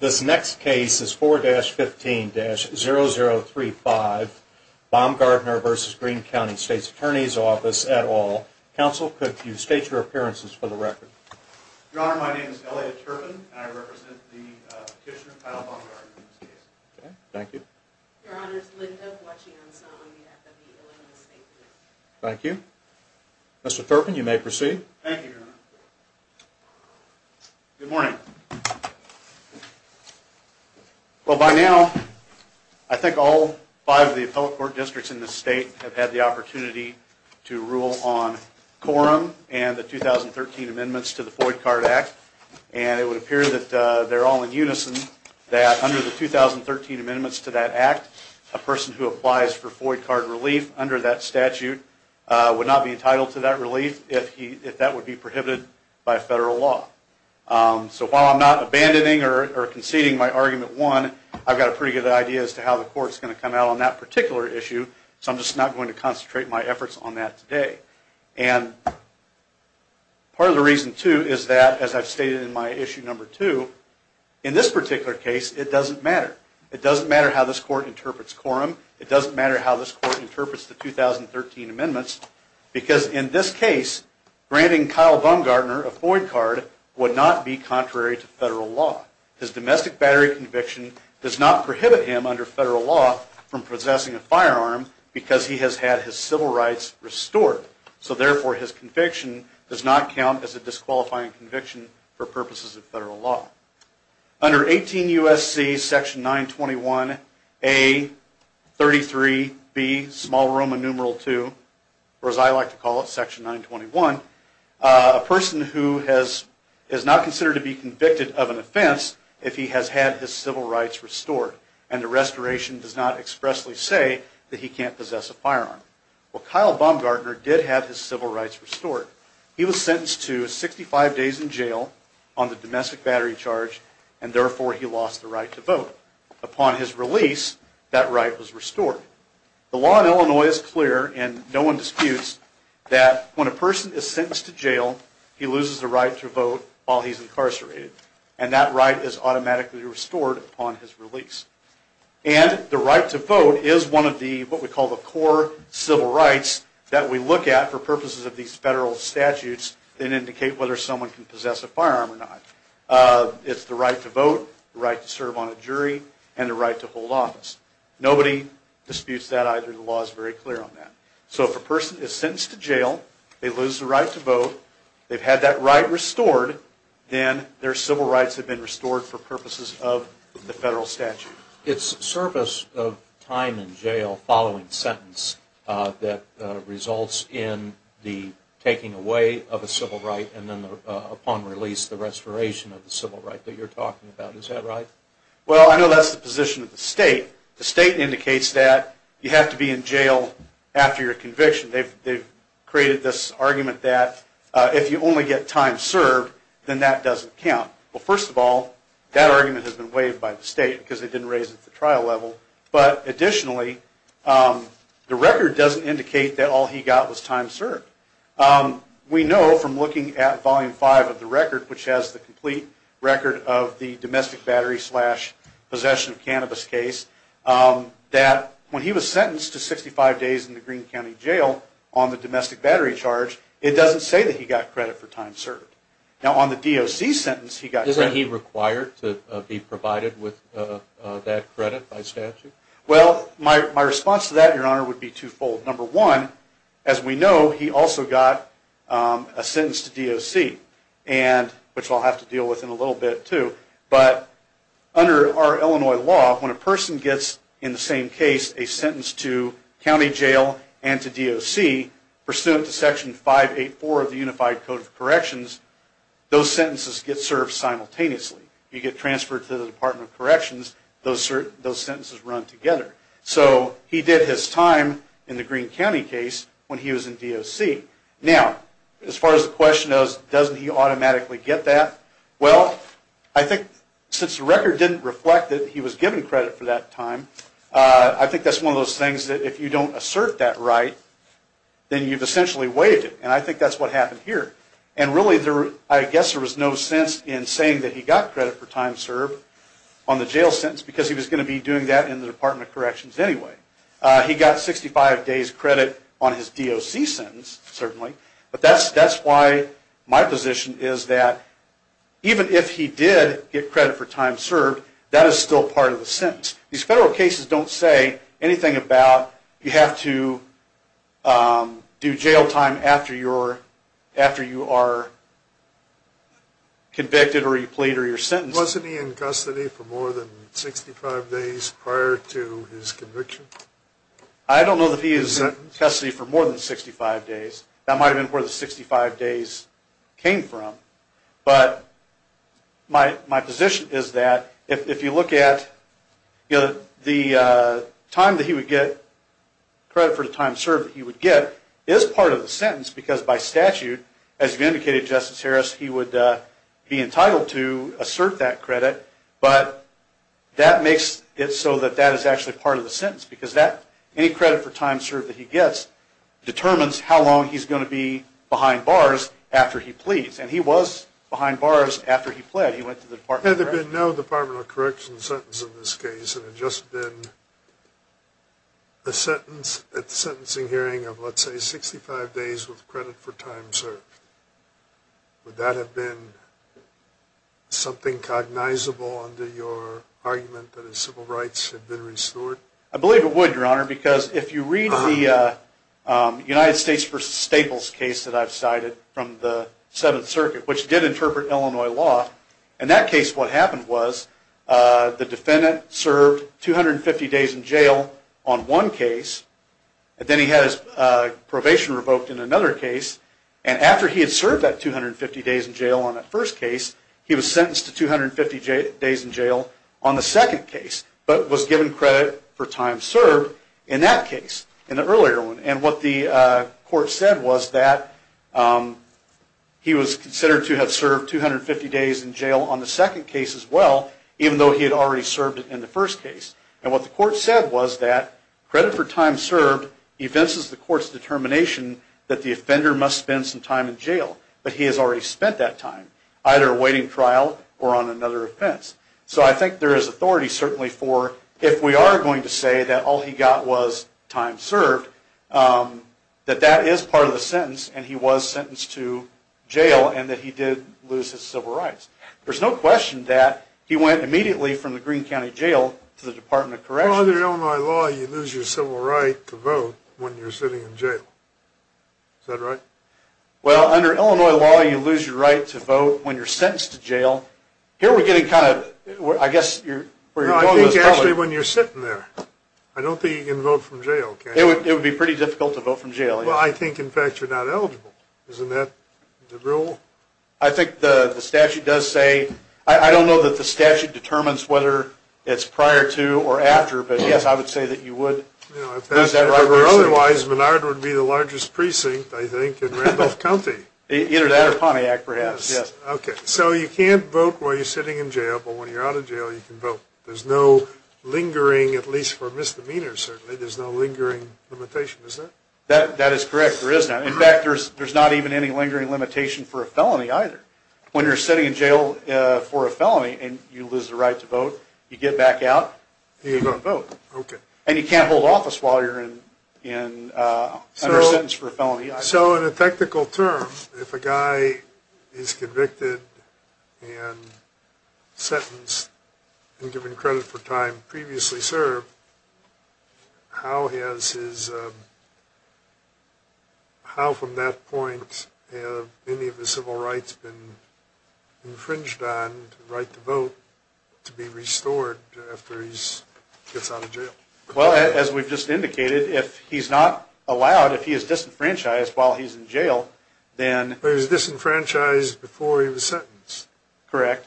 This next case is 4-15-0035 Baumgartner v. Greene County State's Attorney's Office et al. Counsel, could you state your appearances for the record? Your Honor, my name is Elliot Turpin and I represent the petitioner, Kyle Baumgartner, in this case. Okay, thank you. Your Honor, it's Linda, watching on some on behalf of the Illinois State Court. Thank you. Mr. Turpin, you may proceed. Thank you, Your Honor. Good morning. Well, by now, I think all five of the appellate court districts in this state have had the opportunity to rule on quorum and the 2013 amendments to the Foyd Card Act, and it would appear that they're all in unison that under the 2013 amendments to that act, a person who applies for Foyd Card relief under that statute would not be entitled to that relief if that would be prohibited by federal law. So while I'm not abandoning or conceding my argument one, I've got a pretty good idea as to how the court's going to come out on that particular issue, so I'm just not going to concentrate my efforts on that today. And part of the reason, too, is that, as I've stated in my issue number two, in this particular case, it doesn't matter. It doesn't matter how this court interprets quorum. It doesn't matter how this court interprets the 2013 amendments because, in this case, granting Kyle Baumgartner a Foyd Card would not be contrary to federal law. His domestic battery conviction does not prohibit him, under federal law, from possessing a firearm because he has had his civil rights restored. So, therefore, his conviction does not count as a disqualifying conviction for purposes of federal law. Under 18 U.S.C. Section 921A-33B, Small Roman Numeral II, or as I like to call it, Section 921, a person who is not considered to be convicted of an offense if he has had his civil rights restored and the restoration does not expressly say that he can't possess a firearm. Well, Kyle Baumgartner did have his civil rights restored. He was sentenced to 65 days in jail on the domestic battery charge and, therefore, he lost the right to vote. Upon his release, that right was restored. The law in Illinois is clear and no one disputes that when a person is sentenced to jail, he loses the right to vote while he's incarcerated and that right is automatically restored upon his release. And the right to vote is one of the, what we call, the core civil rights that we look at for purposes of these federal statutes that indicate whether someone can possess a firearm or not. It's the right to vote, the right to serve on a jury, and the right to hold office. Nobody disputes that either. The law is very clear on that. So, if a person is sentenced to jail, they lose the right to vote, they've had that right restored, then their civil rights have been restored for purposes of the federal statute. It's service of time in jail following sentence that results in the taking away of a civil right and then, upon release, the restoration of the civil right that you're talking about. Is that right? Well, I know that's the position of the state. The state indicates that you have to be in jail after your conviction. They've created this argument that if you only get time served, then that doesn't count. Well, first of all, that argument has been waived by the state because they didn't raise it at the trial level. But, additionally, the record doesn't indicate that all he got was time served. We know from looking at Volume 5 of the record, which has the complete record of the domestic battery slash possession of cannabis case, that when he was sentenced to 65 days in the Greene County Jail on the domestic battery charge, it doesn't say that he got credit for time served. Now, on the DOC sentence, he got credit. Isn't he required to be provided with that credit by statute? Well, my response to that, Your Honor, would be twofold. Number one, as we know, he also got a sentence to DOC, which I'll have to deal with in a little bit, too. But under our Illinois law, when a person gets, in the same case, a sentence to county jail and to DOC, pursuant to Section 584 of the Unified Code of Corrections, those sentences get served simultaneously. You get transferred to the Department of Corrections, those sentences run together. So he did his time in the Greene County case when he was in DOC. Now, as far as the question is, doesn't he automatically get that? Well, I think since the record didn't reflect that he was given credit for that time, I think that's one of those things that if you don't assert that right, then you've essentially waived it. And I think that's what happened here. And really, I guess there was no sense in saying that he got credit for time served on the jail sentence because he was going to be doing that in the Department of Corrections anyway. He got 65 days credit on his DOC sentence, certainly. But that's why my position is that even if he did get credit for time served, that is still part of the sentence. These federal cases don't say anything about you have to do jail time after you are convicted or you plead or you're sentenced. Wasn't he in custody for more than 65 days prior to his conviction? I don't know that he is in custody for more than 65 days. That might have been where the 65 days came from. But my position is that if you look at the credit for the time served that he would get is part of the sentence because by statute, as you indicated, Justice Harris, he would be entitled to assert that credit. But that makes it so that that is actually part of the sentence because any credit for time served that he gets determines how long he's going to be behind bars after he pleads. And he was behind bars after he pled. He went to the Department of Corrections. Had there been no Department of Corrections sentence in this case and it had just been a sentencing hearing of let's say 65 days with credit for time served, would that have been something cognizable under your argument that his civil rights had been restored? I believe it would, Your Honor, because if you read the United States v. Staples case that I've cited from the Seventh Circuit, which did interpret Illinois law, in that case what happened was the defendant served 250 days in jail on one case. Then he had his probation revoked in another case. And after he had served that 250 days in jail on that first case, he was sentenced to 250 days in jail on the second case but was given credit for time served in that case, in the earlier one. And what the court said was that he was considered to have served 250 days in jail on the second case as well, even though he had already served in the first case. And what the court said was that credit for time served evinces the court's determination that the offender must spend some time in jail. But he has already spent that time either awaiting trial or on another offense. So I think there is authority certainly for, if we are going to say that all he got was time served, that that is part of the sentence and he was sentenced to jail and that he did lose his civil rights. There's no question that he went immediately from the Greene County Jail to the Department of Corrections. Well, under Illinois law, you lose your civil right to vote when you're sitting in jail. Is that right? Well, under Illinois law, you lose your right to vote when you're sentenced to jail. Well, here we're getting kind of, I guess, where your point is. No, I think actually when you're sitting there. I don't think you can vote from jail. It would be pretty difficult to vote from jail, yes. Well, I think in fact you're not eligible. Isn't that the rule? I think the statute does say, I don't know that the statute determines whether it's prior to or after, but yes, I would say that you would lose that right. Otherwise, Menard would be the largest precinct, I think, in Randolph County. Either that or Pontiac, perhaps, yes. Okay, so you can't vote while you're sitting in jail, but when you're out of jail you can vote. There's no lingering, at least for misdemeanors certainly, there's no lingering limitation, is there? That is correct, there is not. In fact, there's not even any lingering limitation for a felony either. When you're sitting in jail for a felony and you lose the right to vote, you get back out and you can vote. Okay. And you can't hold office while you're in, under a sentence for a felony either. So in a technical term, if a guy is convicted and sentenced and given credit for time previously served, how has his, how from that point have any of his civil rights been infringed on, the right to vote, to be restored after he gets out of jail? Well, as we've just indicated, if he's not allowed, if he is disenfranchised while he's in jail, then... But he was disenfranchised before he was sentenced. Correct.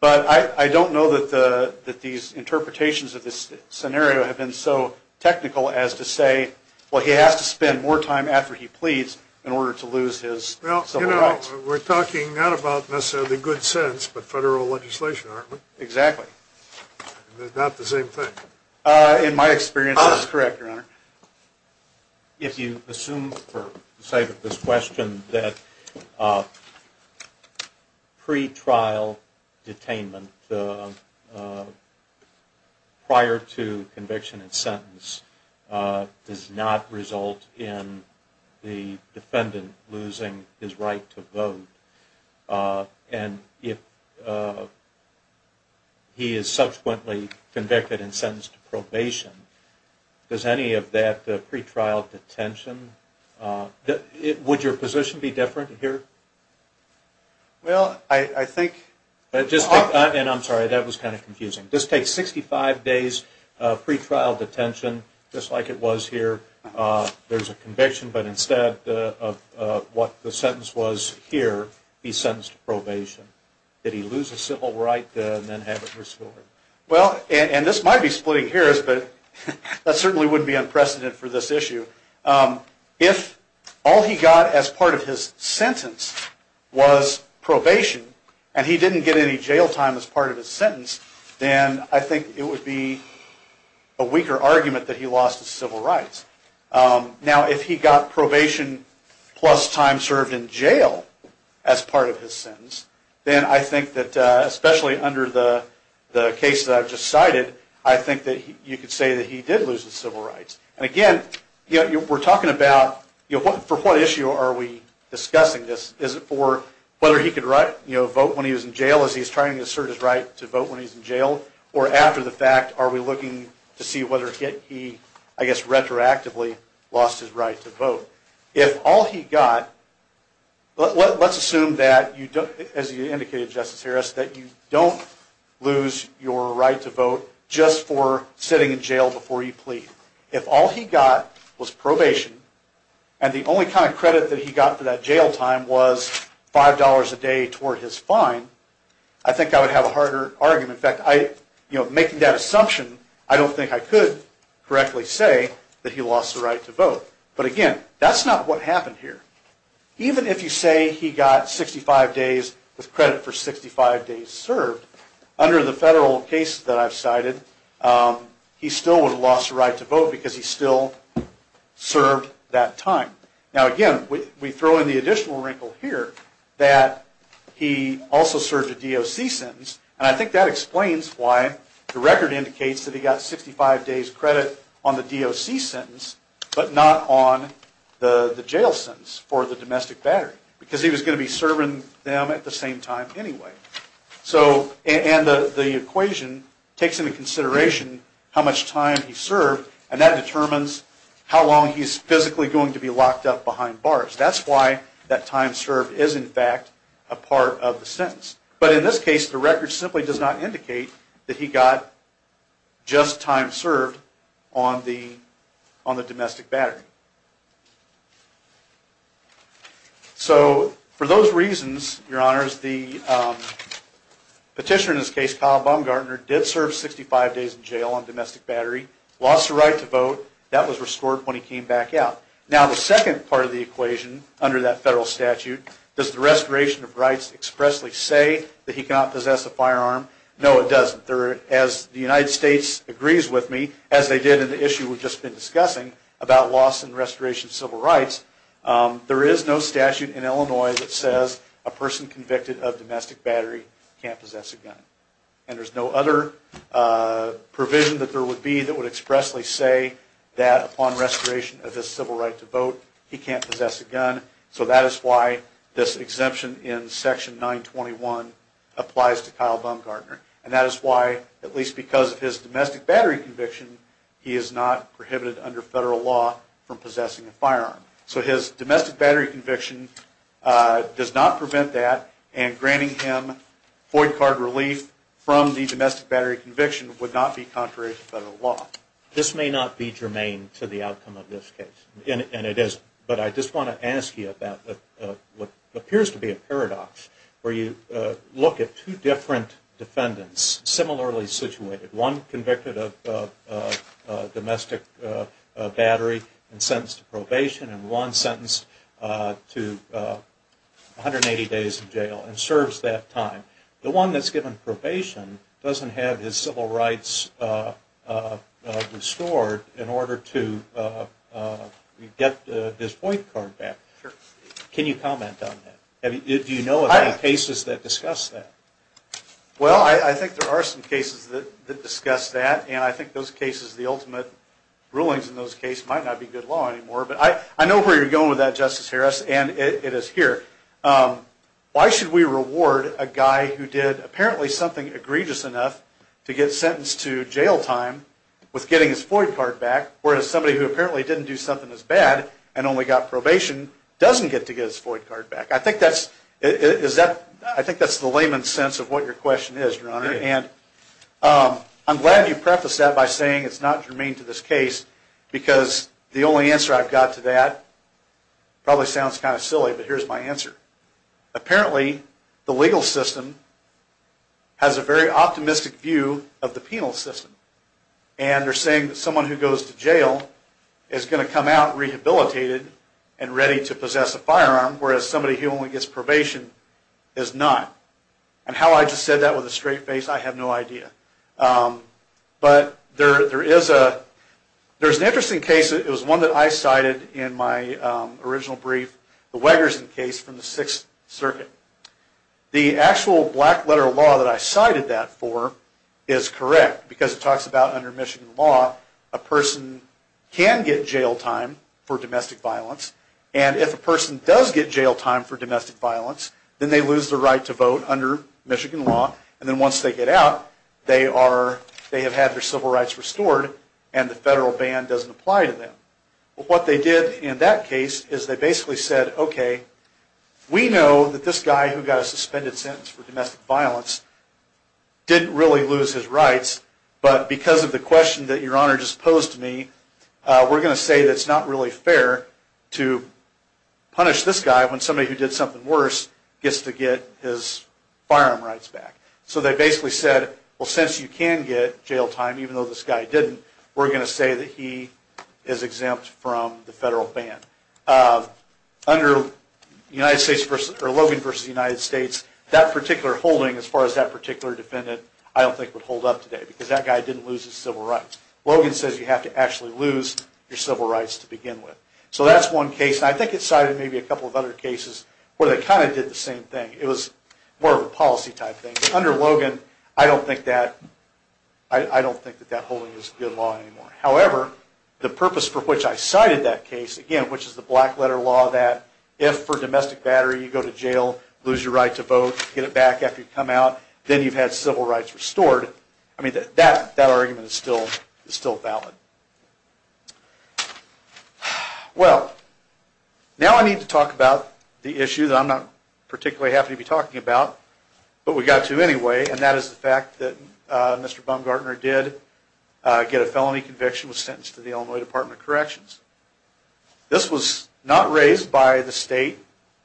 But I don't know that these interpretations of this scenario have been so technical as to say, well, he has to spend more time after he pleads in order to lose his civil rights. Well, you know, we're talking not about necessarily good sense, but federal legislation, aren't we? Exactly. Not the same thing. In my experience, that's correct, Your Honor. If you assume, for the sake of this question, that pretrial detainment prior to conviction and sentence does not result in the defendant losing his right to vote, and if he is subsequently convicted and sentenced to probation, does any of that pretrial detention... Would your position be different here? Well, I think... And I'm sorry, that was kind of confusing. This takes 65 days of pretrial detention, just like it was here. There's a conviction, but instead of what the sentence was here, he's sentenced to probation. Did he lose his civil rights and then have it restored? Well, and this might be splitting hairs, but that certainly wouldn't be unprecedented for this issue. If all he got as part of his sentence was probation, and he didn't get any jail time as part of his sentence, then I think it would be a weaker argument that he lost his civil rights. Now, if he got probation plus time served in jail as part of his sentence, then I think that, especially under the case that I've just cited, I think that you could say that he did lose his civil rights. And again, we're talking about, for what issue are we discussing this? Is it for whether he could vote when he was in jail, as he's trying to assert his right to vote when he's in jail? Or after the fact, are we looking to see whether he, I guess retroactively, lost his right to vote? If all he got... Let's assume that, as you indicated, Justice Harris, that you don't lose your right to vote just for sitting in jail before you plead. If all he got was probation, and the only kind of credit that he got for that jail time was $5 a day toward his fine, I think I would have a harder argument. In fact, making that assumption, I don't think I could correctly say that he lost the right to vote. But again, that's not what happened here. Even if you say he got 65 days with credit for 65 days served, under the federal case that I've cited, he still would have lost the right to vote because he still served that time. Now again, we throw in the additional wrinkle here that he also served a DOC sentence, and I think that explains why the record indicates that he got 65 days credit on the DOC sentence, but not on the jail sentence for the domestic battery, because he was going to be serving them at the same time anyway. And the equation takes into consideration how much time he served, and that determines how long he's physically going to be locked up behind bars. That's why that time served is, in fact, a part of the sentence. But in this case, the record simply does not indicate that he got just time served on the domestic battery. So for those reasons, your honors, the petitioner in this case, Kyle Baumgartner, did serve 65 days in jail on domestic battery, lost the right to vote. That was restored when he came back out. Now the second part of the equation under that federal statute, does the restoration of rights expressly say that he cannot possess a firearm? No, it doesn't. As the United States agrees with me, as they did in the issue we've just been discussing, about loss and restoration of civil rights, there is no statute in Illinois that says a person convicted of domestic battery can't possess a gun. And there's no other provision that there would be that would expressly say that upon restoration of this civil right to vote, he can't possess a gun. So that is why this exemption in Section 921 applies to Kyle Baumgartner. And that is why, at least because of his domestic battery conviction, he is not prohibited under federal law from possessing a firearm. So his domestic battery conviction does not prevent that, and granting him void card relief from the domestic battery conviction would not be contrary to federal law. This may not be germane to the outcome of this case, and it is, but I just want to ask you about what appears to be a paradox, where you look at two different defendants, similarly situated. One convicted of domestic battery and sentenced to probation, and one sentenced to 180 days in jail, and serves that time. The one that's given probation doesn't have his civil rights restored in order to get his void card back. Can you comment on that? Do you know of any cases that discuss that? Well, I think there are some cases that discuss that, and I think those cases, the ultimate rulings in those cases, might not be good law anymore. But I know where you're going with that, Justice Harris, and it is here. Why should we reward a guy who did apparently something egregious enough to get sentenced to jail time with getting his void card back, whereas somebody who apparently didn't do something as bad and only got probation doesn't get to get his void card back? I think that's the layman's sense of what your question is, Your Honor, and I'm glad you prefaced that by saying it's not germane to this case, because the only answer I've got to that, probably sounds kind of silly, but here's my answer. Apparently, the legal system has a very optimistic view of the penal system, and they're saying that someone who goes to jail is going to come out rehabilitated and ready to possess a firearm, whereas somebody who only gets probation is not. And how I just said that with a straight face, I have no idea. But there is an interesting case. It was one that I cited in my original brief, the Wegerson case from the Sixth Circuit. The actual black-letter law that I cited that for is correct, because it talks about, under Michigan law, a person can get jail time for domestic violence, and if a person does get jail time for domestic violence, then they lose the right to vote under Michigan law, and then once they get out, they have had their civil rights restored, and the federal ban doesn't apply to them. What they did in that case is they basically said, okay, we know that this guy who got a suspended sentence for domestic violence didn't really lose his rights, but because of the question that Your Honor just posed to me, we're going to say that it's not really fair to punish this guy when somebody who did something worse gets to get his firearm rights back. So they basically said, well, since you can get jail time, even though this guy didn't, we're going to say that he is exempt from the federal ban. Under Logan v. United States, that particular holding, as far as that particular defendant, I don't think would hold up today, because that guy didn't lose his civil rights. Logan says you have to actually lose your civil rights to begin with. So that's one case, and I think it cited maybe a couple of other cases where they kind of did the same thing. It was more of a policy type thing. Under Logan, I don't think that holding is good law anymore. However, the purpose for which I cited that case, again, which is the black letter law that if for domestic battery you go to jail, lose your right to vote, get it back after you come out, then you've had civil rights restored, I mean, that argument is still valid. Well, now I need to talk about the issue that I'm not particularly happy to be talking about, but we've got to anyway, and that is the fact that Mr. Baumgartner did get a felony conviction and was sentenced to the Illinois Department of Corrections. This was not raised by the state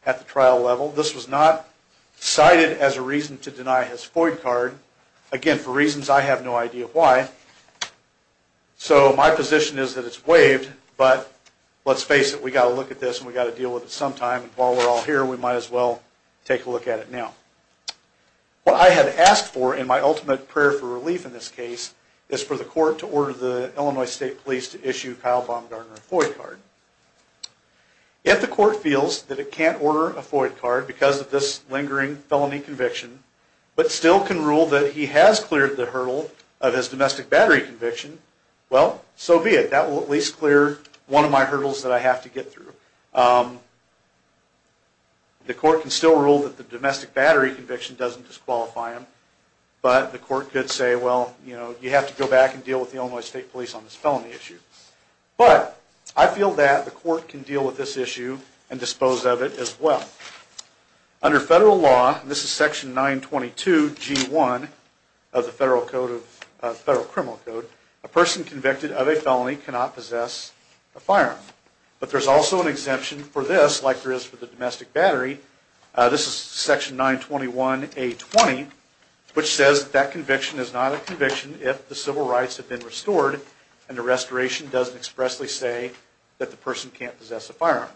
at the trial level. This was not cited as a reason to deny his FOID card. Again, for reasons I have no idea why. So my position is that it's waived, but let's face it, we've got to look at this and we've got to deal with it sometime, and while we're all here, we might as well take a look at it now. What I had asked for in my ultimate prayer for relief in this case is for the court to order the Illinois State Police to issue Kyle Baumgartner a FOID card. If the court feels that it can't order a FOID card because of this lingering felony conviction, but still can rule that he has cleared the hurdle of his domestic battery conviction, well, so be it. That will at least clear one of my hurdles that I have to get through. The court can still rule that the domestic battery conviction doesn't disqualify him, but the court could say, well, you have to go back and deal with the Illinois State Police on this felony issue. But, I feel that the court can deal with this issue and dispose of it as well. Under federal law, this is section 922G1 of the Federal Criminal Code, a person convicted of a felony cannot possess a firearm. But there's also an exemption for this, like there is for the domestic battery. This is section 921A20, which says that conviction is not a conviction if the civil rights have been restored and the restoration doesn't expressly say that the person can't possess a firearm.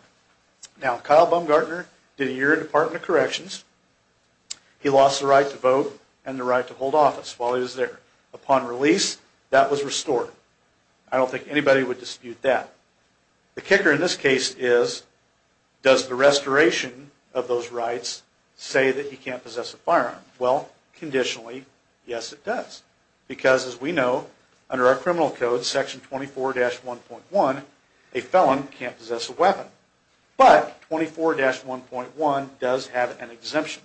Now, Kyle Baumgartner did a year in the Department of Corrections. He lost the right to vote and the right to hold office while he was there. Upon release, that was restored. I don't think anybody would dispute that. The kicker in this case is, does the restoration of those rights say that he can't possess a firearm? Well, conditionally, yes it does. Because, as we know, under our criminal code, section 24-1.1, a felon can't possess a weapon. But, 24-1.1 does have an exemption.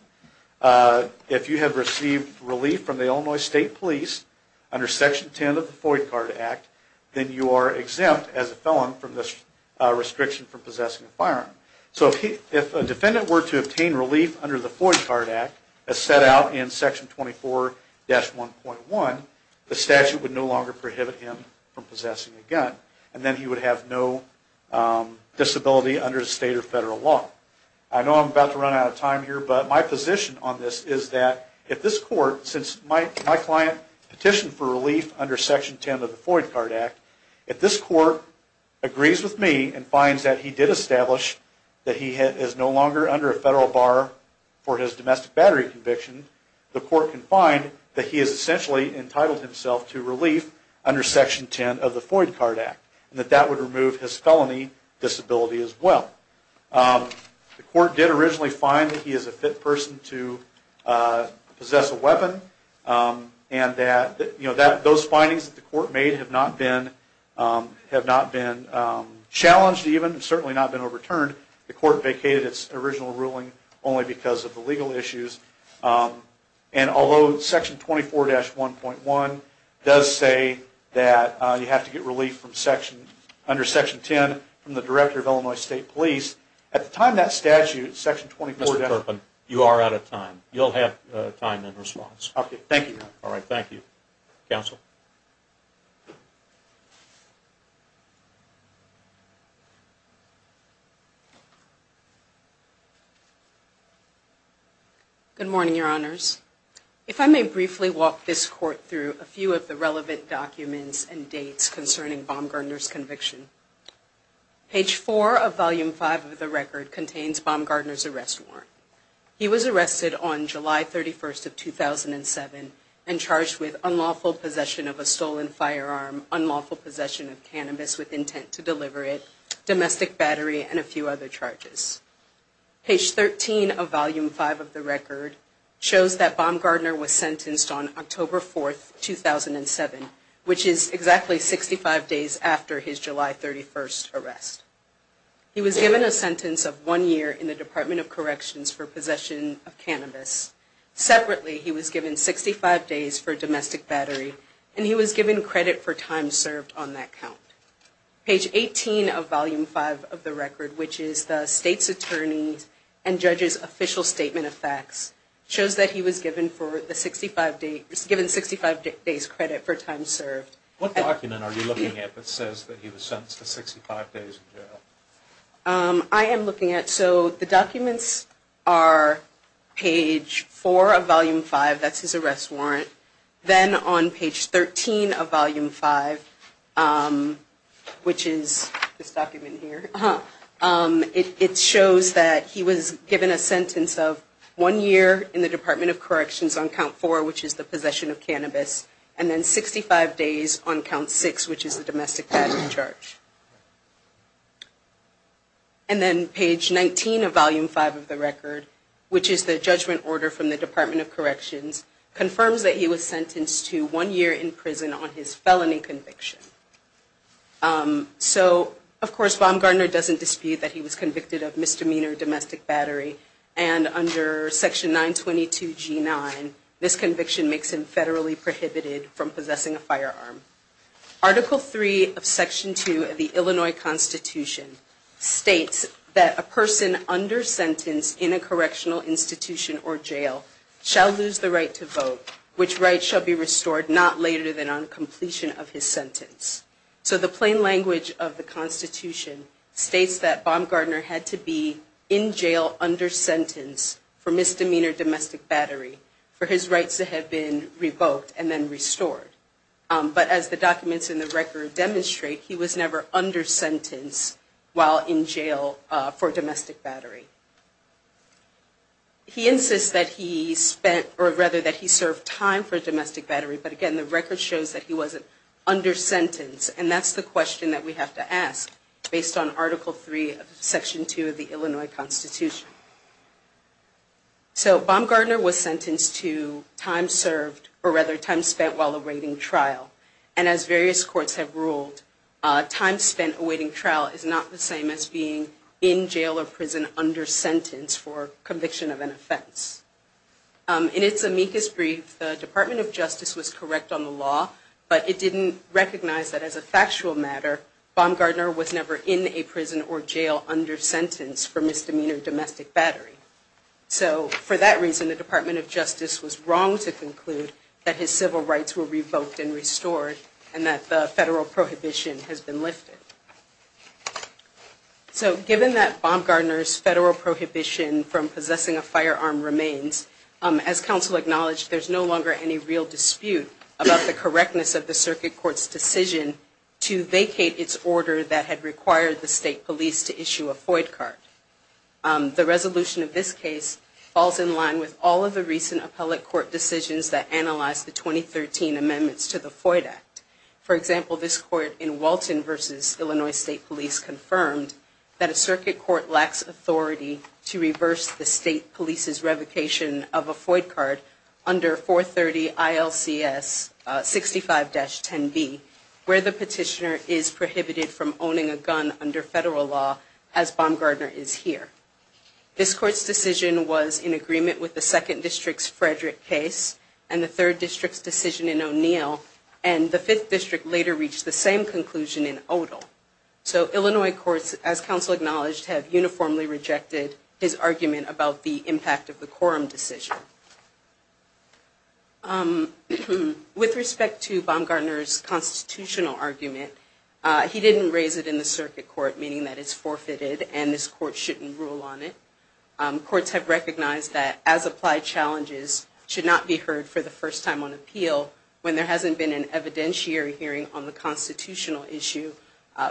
If you have received relief from the Illinois State Police under section 10 of the Floyd Card Act, then you are exempt as a felon from this restriction from possessing a firearm. So if a defendant were to obtain relief under the Floyd Card Act, as set out in section 24-1.1, the statute would no longer prohibit him from possessing a gun. And then he would have no disability under the state or federal law. I know I'm about to run out of time here, but my position on this is that if this court, since my client petitioned for relief under section 10 of the Floyd Card Act, if this court agrees with me and finds that he did establish that he is no longer under a federal bar for his domestic battery conviction, the court can find that he is essentially entitled himself to relief under section 10 of the Floyd Card Act, and that that would remove his felony disability as well. The court did originally find that he is a fit person to possess a weapon, and that those findings that the court made have not been challenged even, and certainly not been overturned. The court vacated its original ruling only because of the legal issues. And although section 24-1.1 does say that you have to get relief under section 10 from the Director of Illinois State Police, at the time that statute, section 24-1- Mr. Turpin, you are out of time. You'll have time in response. Okay, thank you. All right, thank you. Counsel. Good morning, Your Honors. If I may briefly walk this court through a few of the relevant documents and dates concerning Baumgardner's conviction. Page 4 of Volume 5 of the record contains Baumgardner's arrest warrant. He was arrested on July 31st of 2007 and charged with unlawful possession of a stolen firearm, unlawful possession of cannabis with intent to deliver it, domestic battery, and a few other charges. Page 13 of Volume 5 of the record shows that Baumgardner was sentenced on October 4th, 2007, which is exactly 65 days after his July 31st arrest. He was given a sentence of one year in the Department of Corrections for possession of cannabis. Separately, he was given 65 days for domestic battery, and he was given credit for time served on that count. Page 18 of Volume 5 of the record, which is the state's attorney and judge's official statement of facts, shows that he was given 65 days credit for time served. What document are you looking at that says that he was sentenced to 65 days in jail? I am looking at, so the documents are page 4 of Volume 5, that's his arrest warrant. Then on page 13 of Volume 5, which is this document here, it shows that he was given a sentence of one year in the Department of Corrections on count 4, which is the possession of cannabis, and then 65 days on count 6, which is the domestic battery charge. And then page 19 of Volume 5 of the record, which is the judgment order from the Department of Corrections, confirms that he was sentenced to one year in prison on his felony conviction. So, of course, Baumgardner doesn't dispute that he was convicted of misdemeanor domestic battery, and under Section 922G9, this conviction makes him federally prohibited from possessing a firearm. Article 3 of Section 2 of the Illinois Constitution states that a person under sentence in a correctional institution or jail shall lose the right to vote, which right shall be restored not later than on completion of his sentence. So the plain language of the Constitution states that Baumgardner had to be in jail under sentence for misdemeanor domestic battery for his rights to have been revoked and then restored. But as the documents in the record demonstrate, he was never under sentence while in jail for domestic battery. He insists that he served time for domestic battery, but again, the record shows that he wasn't under sentence. And that's the question that we have to ask based on Article 3 of Section 2 of the Illinois Constitution. So Baumgardner was sentenced to time served, or rather time spent while awaiting trial. And as various courts have ruled, time spent awaiting trial is not the same as being in jail or prison under sentence. In its amicus brief, the Department of Justice was correct on the law, but it didn't recognize that as a factual matter, Baumgardner was never in a prison or jail under sentence for misdemeanor domestic battery. So for that reason, the Department of Justice was wrong to conclude that his civil rights were revoked and restored and that the federal prohibition has been lifted. So given that Baumgardner's federal prohibition from possessing a firearm remains, as counsel acknowledged, there's no longer any real dispute about the correctness of the circuit court's decision to vacate its order that had required the state police to issue a FOID card. The resolution of this case falls in line with all of the recent appellate court decisions that analyzed the 2013 amendments to the FOID Act. For example, this court in Walton v. Illinois State Police confirmed that a circuit court lacks authority to reverse the state police's revocation of a FOID card under 430 ILCS 65-10B, where the petitioner is prohibited from owning a gun under federal law as Baumgardner is here. This court's decision was in agreement with the 2nd District's Frederick case and the 3rd District's decision in O'Neill and the 5th District later reached the same conclusion in Odell. So Illinois courts, as counsel acknowledged, have uniformly rejected his argument about the impact of the quorum decision. With respect to Baumgardner's constitutional argument, he didn't raise it in the circuit court, meaning that it's forfeited and this court shouldn't rule on it. Courts have recognized that as-applied challenges should not be heard for the first time on appeal when there hasn't been an evidentiary hearing on the constitutional issue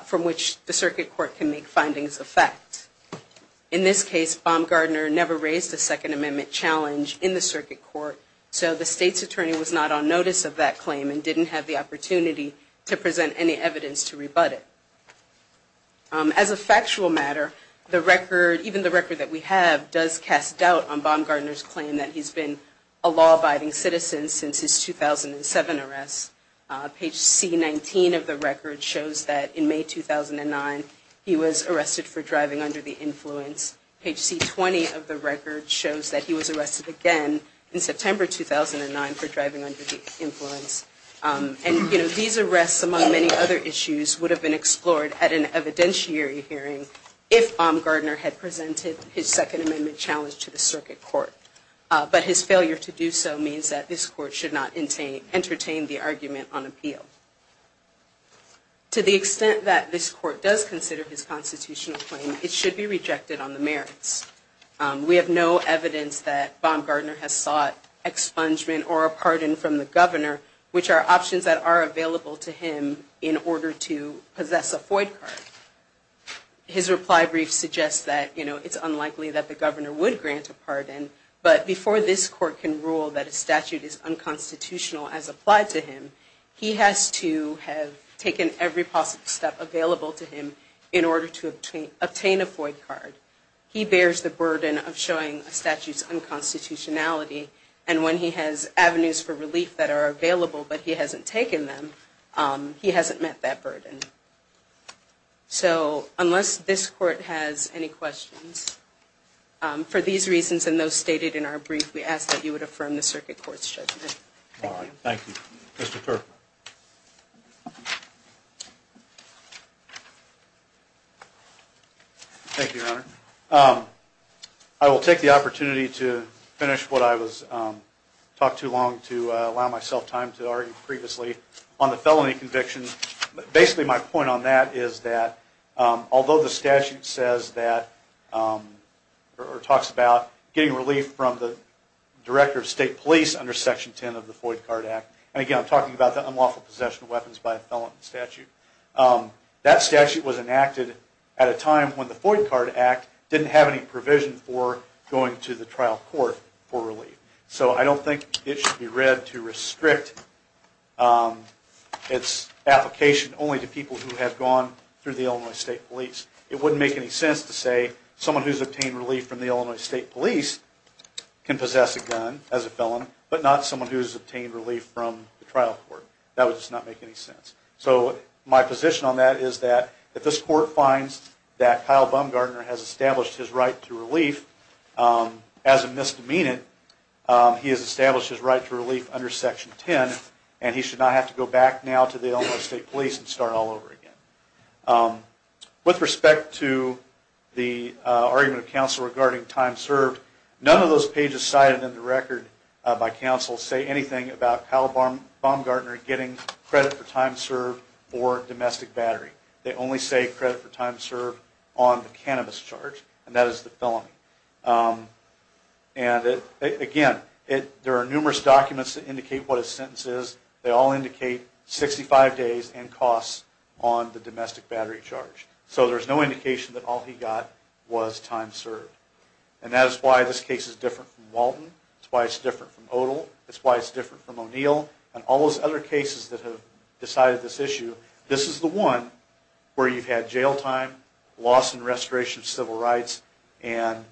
from which the circuit court can make findings of fact. In this case, Baumgardner never raised a Second Amendment challenge in the circuit court, so the state's attorney was not on notice of that claim and didn't have the opportunity to present any evidence to rebut it. As a factual matter, even the record that we have does cast doubt on Baumgardner's claim that he's been a law-abiding citizen since his 2007 arrest. Page C-19 of the record shows that in May 2009 he was arrested for driving under the influence. Page C-20 of the record shows that he was arrested again in September 2009 for driving under the influence. These arrests, among many other issues, would have been explored at an evidentiary hearing if Baumgardner had presented his Second Amendment challenge to the circuit court. But his failure to do so means that this court should not entertain the argument on appeal. To the extent that this court does consider his constitutional claim, it should be rejected on the merits. We have no evidence that Baumgardner has sought expungement or a pardon from the governor, which are options that are available to him in order to possess a FOID card. His reply brief suggests that it's unlikely that the governor would grant a pardon, but before this court can rule that a statute is unconstitutional as applied to him, he has to have taken every possible step available to him in order to obtain a FOID card. He bears the burden of showing a statute's unconstitutionality, and when he has avenues for relief that are available but he hasn't taken them, he hasn't met that burden. So unless this court has any questions, for these reasons and those stated in our brief, we ask that you would affirm the circuit court's judgment. Thank you. Thank you. Mr. Kerr. Thank you, Your Honor. I will take the opportunity to finish what I talked too long to allow myself time to argue previously on the felony conviction. Basically my point on that is that although the statute says that, or talks about, getting relief from the Director of State Police under Section 10 of the FOID Card Act, and again I'm talking about the unlawful possession of weapons by a felon in the statute, that statute was enacted at a time when the FOID Card Act didn't have any provision for going to the trial court for relief. So I don't think it should be read to restrict its application only to people who have gone through the Illinois State Police. It wouldn't make any sense to say someone who's obtained relief from the Illinois State Police can possess a gun as a felon, but not someone who's obtained relief from the trial court. That would just not make any sense. So my position on that is that if this court finds that Kyle Baumgartner has established his right to relief, as a misdemeanant, he has established his right to relief under Section 10, and he should not have to go back now to the Illinois State Police and start all over again. With respect to the argument of counsel regarding time served, none of those pages cited in the record by counsel say anything about Kyle Baumgartner getting credit for time served for domestic battery. They only say credit for time served on the cannabis charge, and that is the felony. And again, there are numerous documents that indicate what his sentence is. They all indicate 65 days and costs on the domestic battery charge. So there's no indication that all he got was time served. And that is why this case is different from Walton. It's why it's different from Odall. It's why it's different from O'Neill, and all those other cases that have decided this issue. This is the one where you've had jail time, loss and restoration of civil rights, and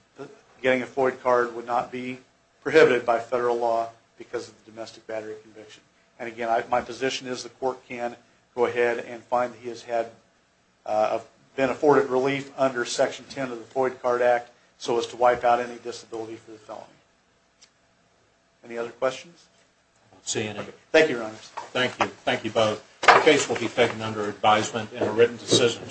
getting a Floyd card would not be prohibited by federal law because of the domestic battery conviction. And again, my position is the court can go ahead and find that he has had been afforded relief under Section 10 of the Floyd Card Act, so as to wipe out any disability for the felony. Any other questions? I don't see any. Thank you, Your Honors. Thank you. Thank you both. The case will be taken under advisement in a written decision.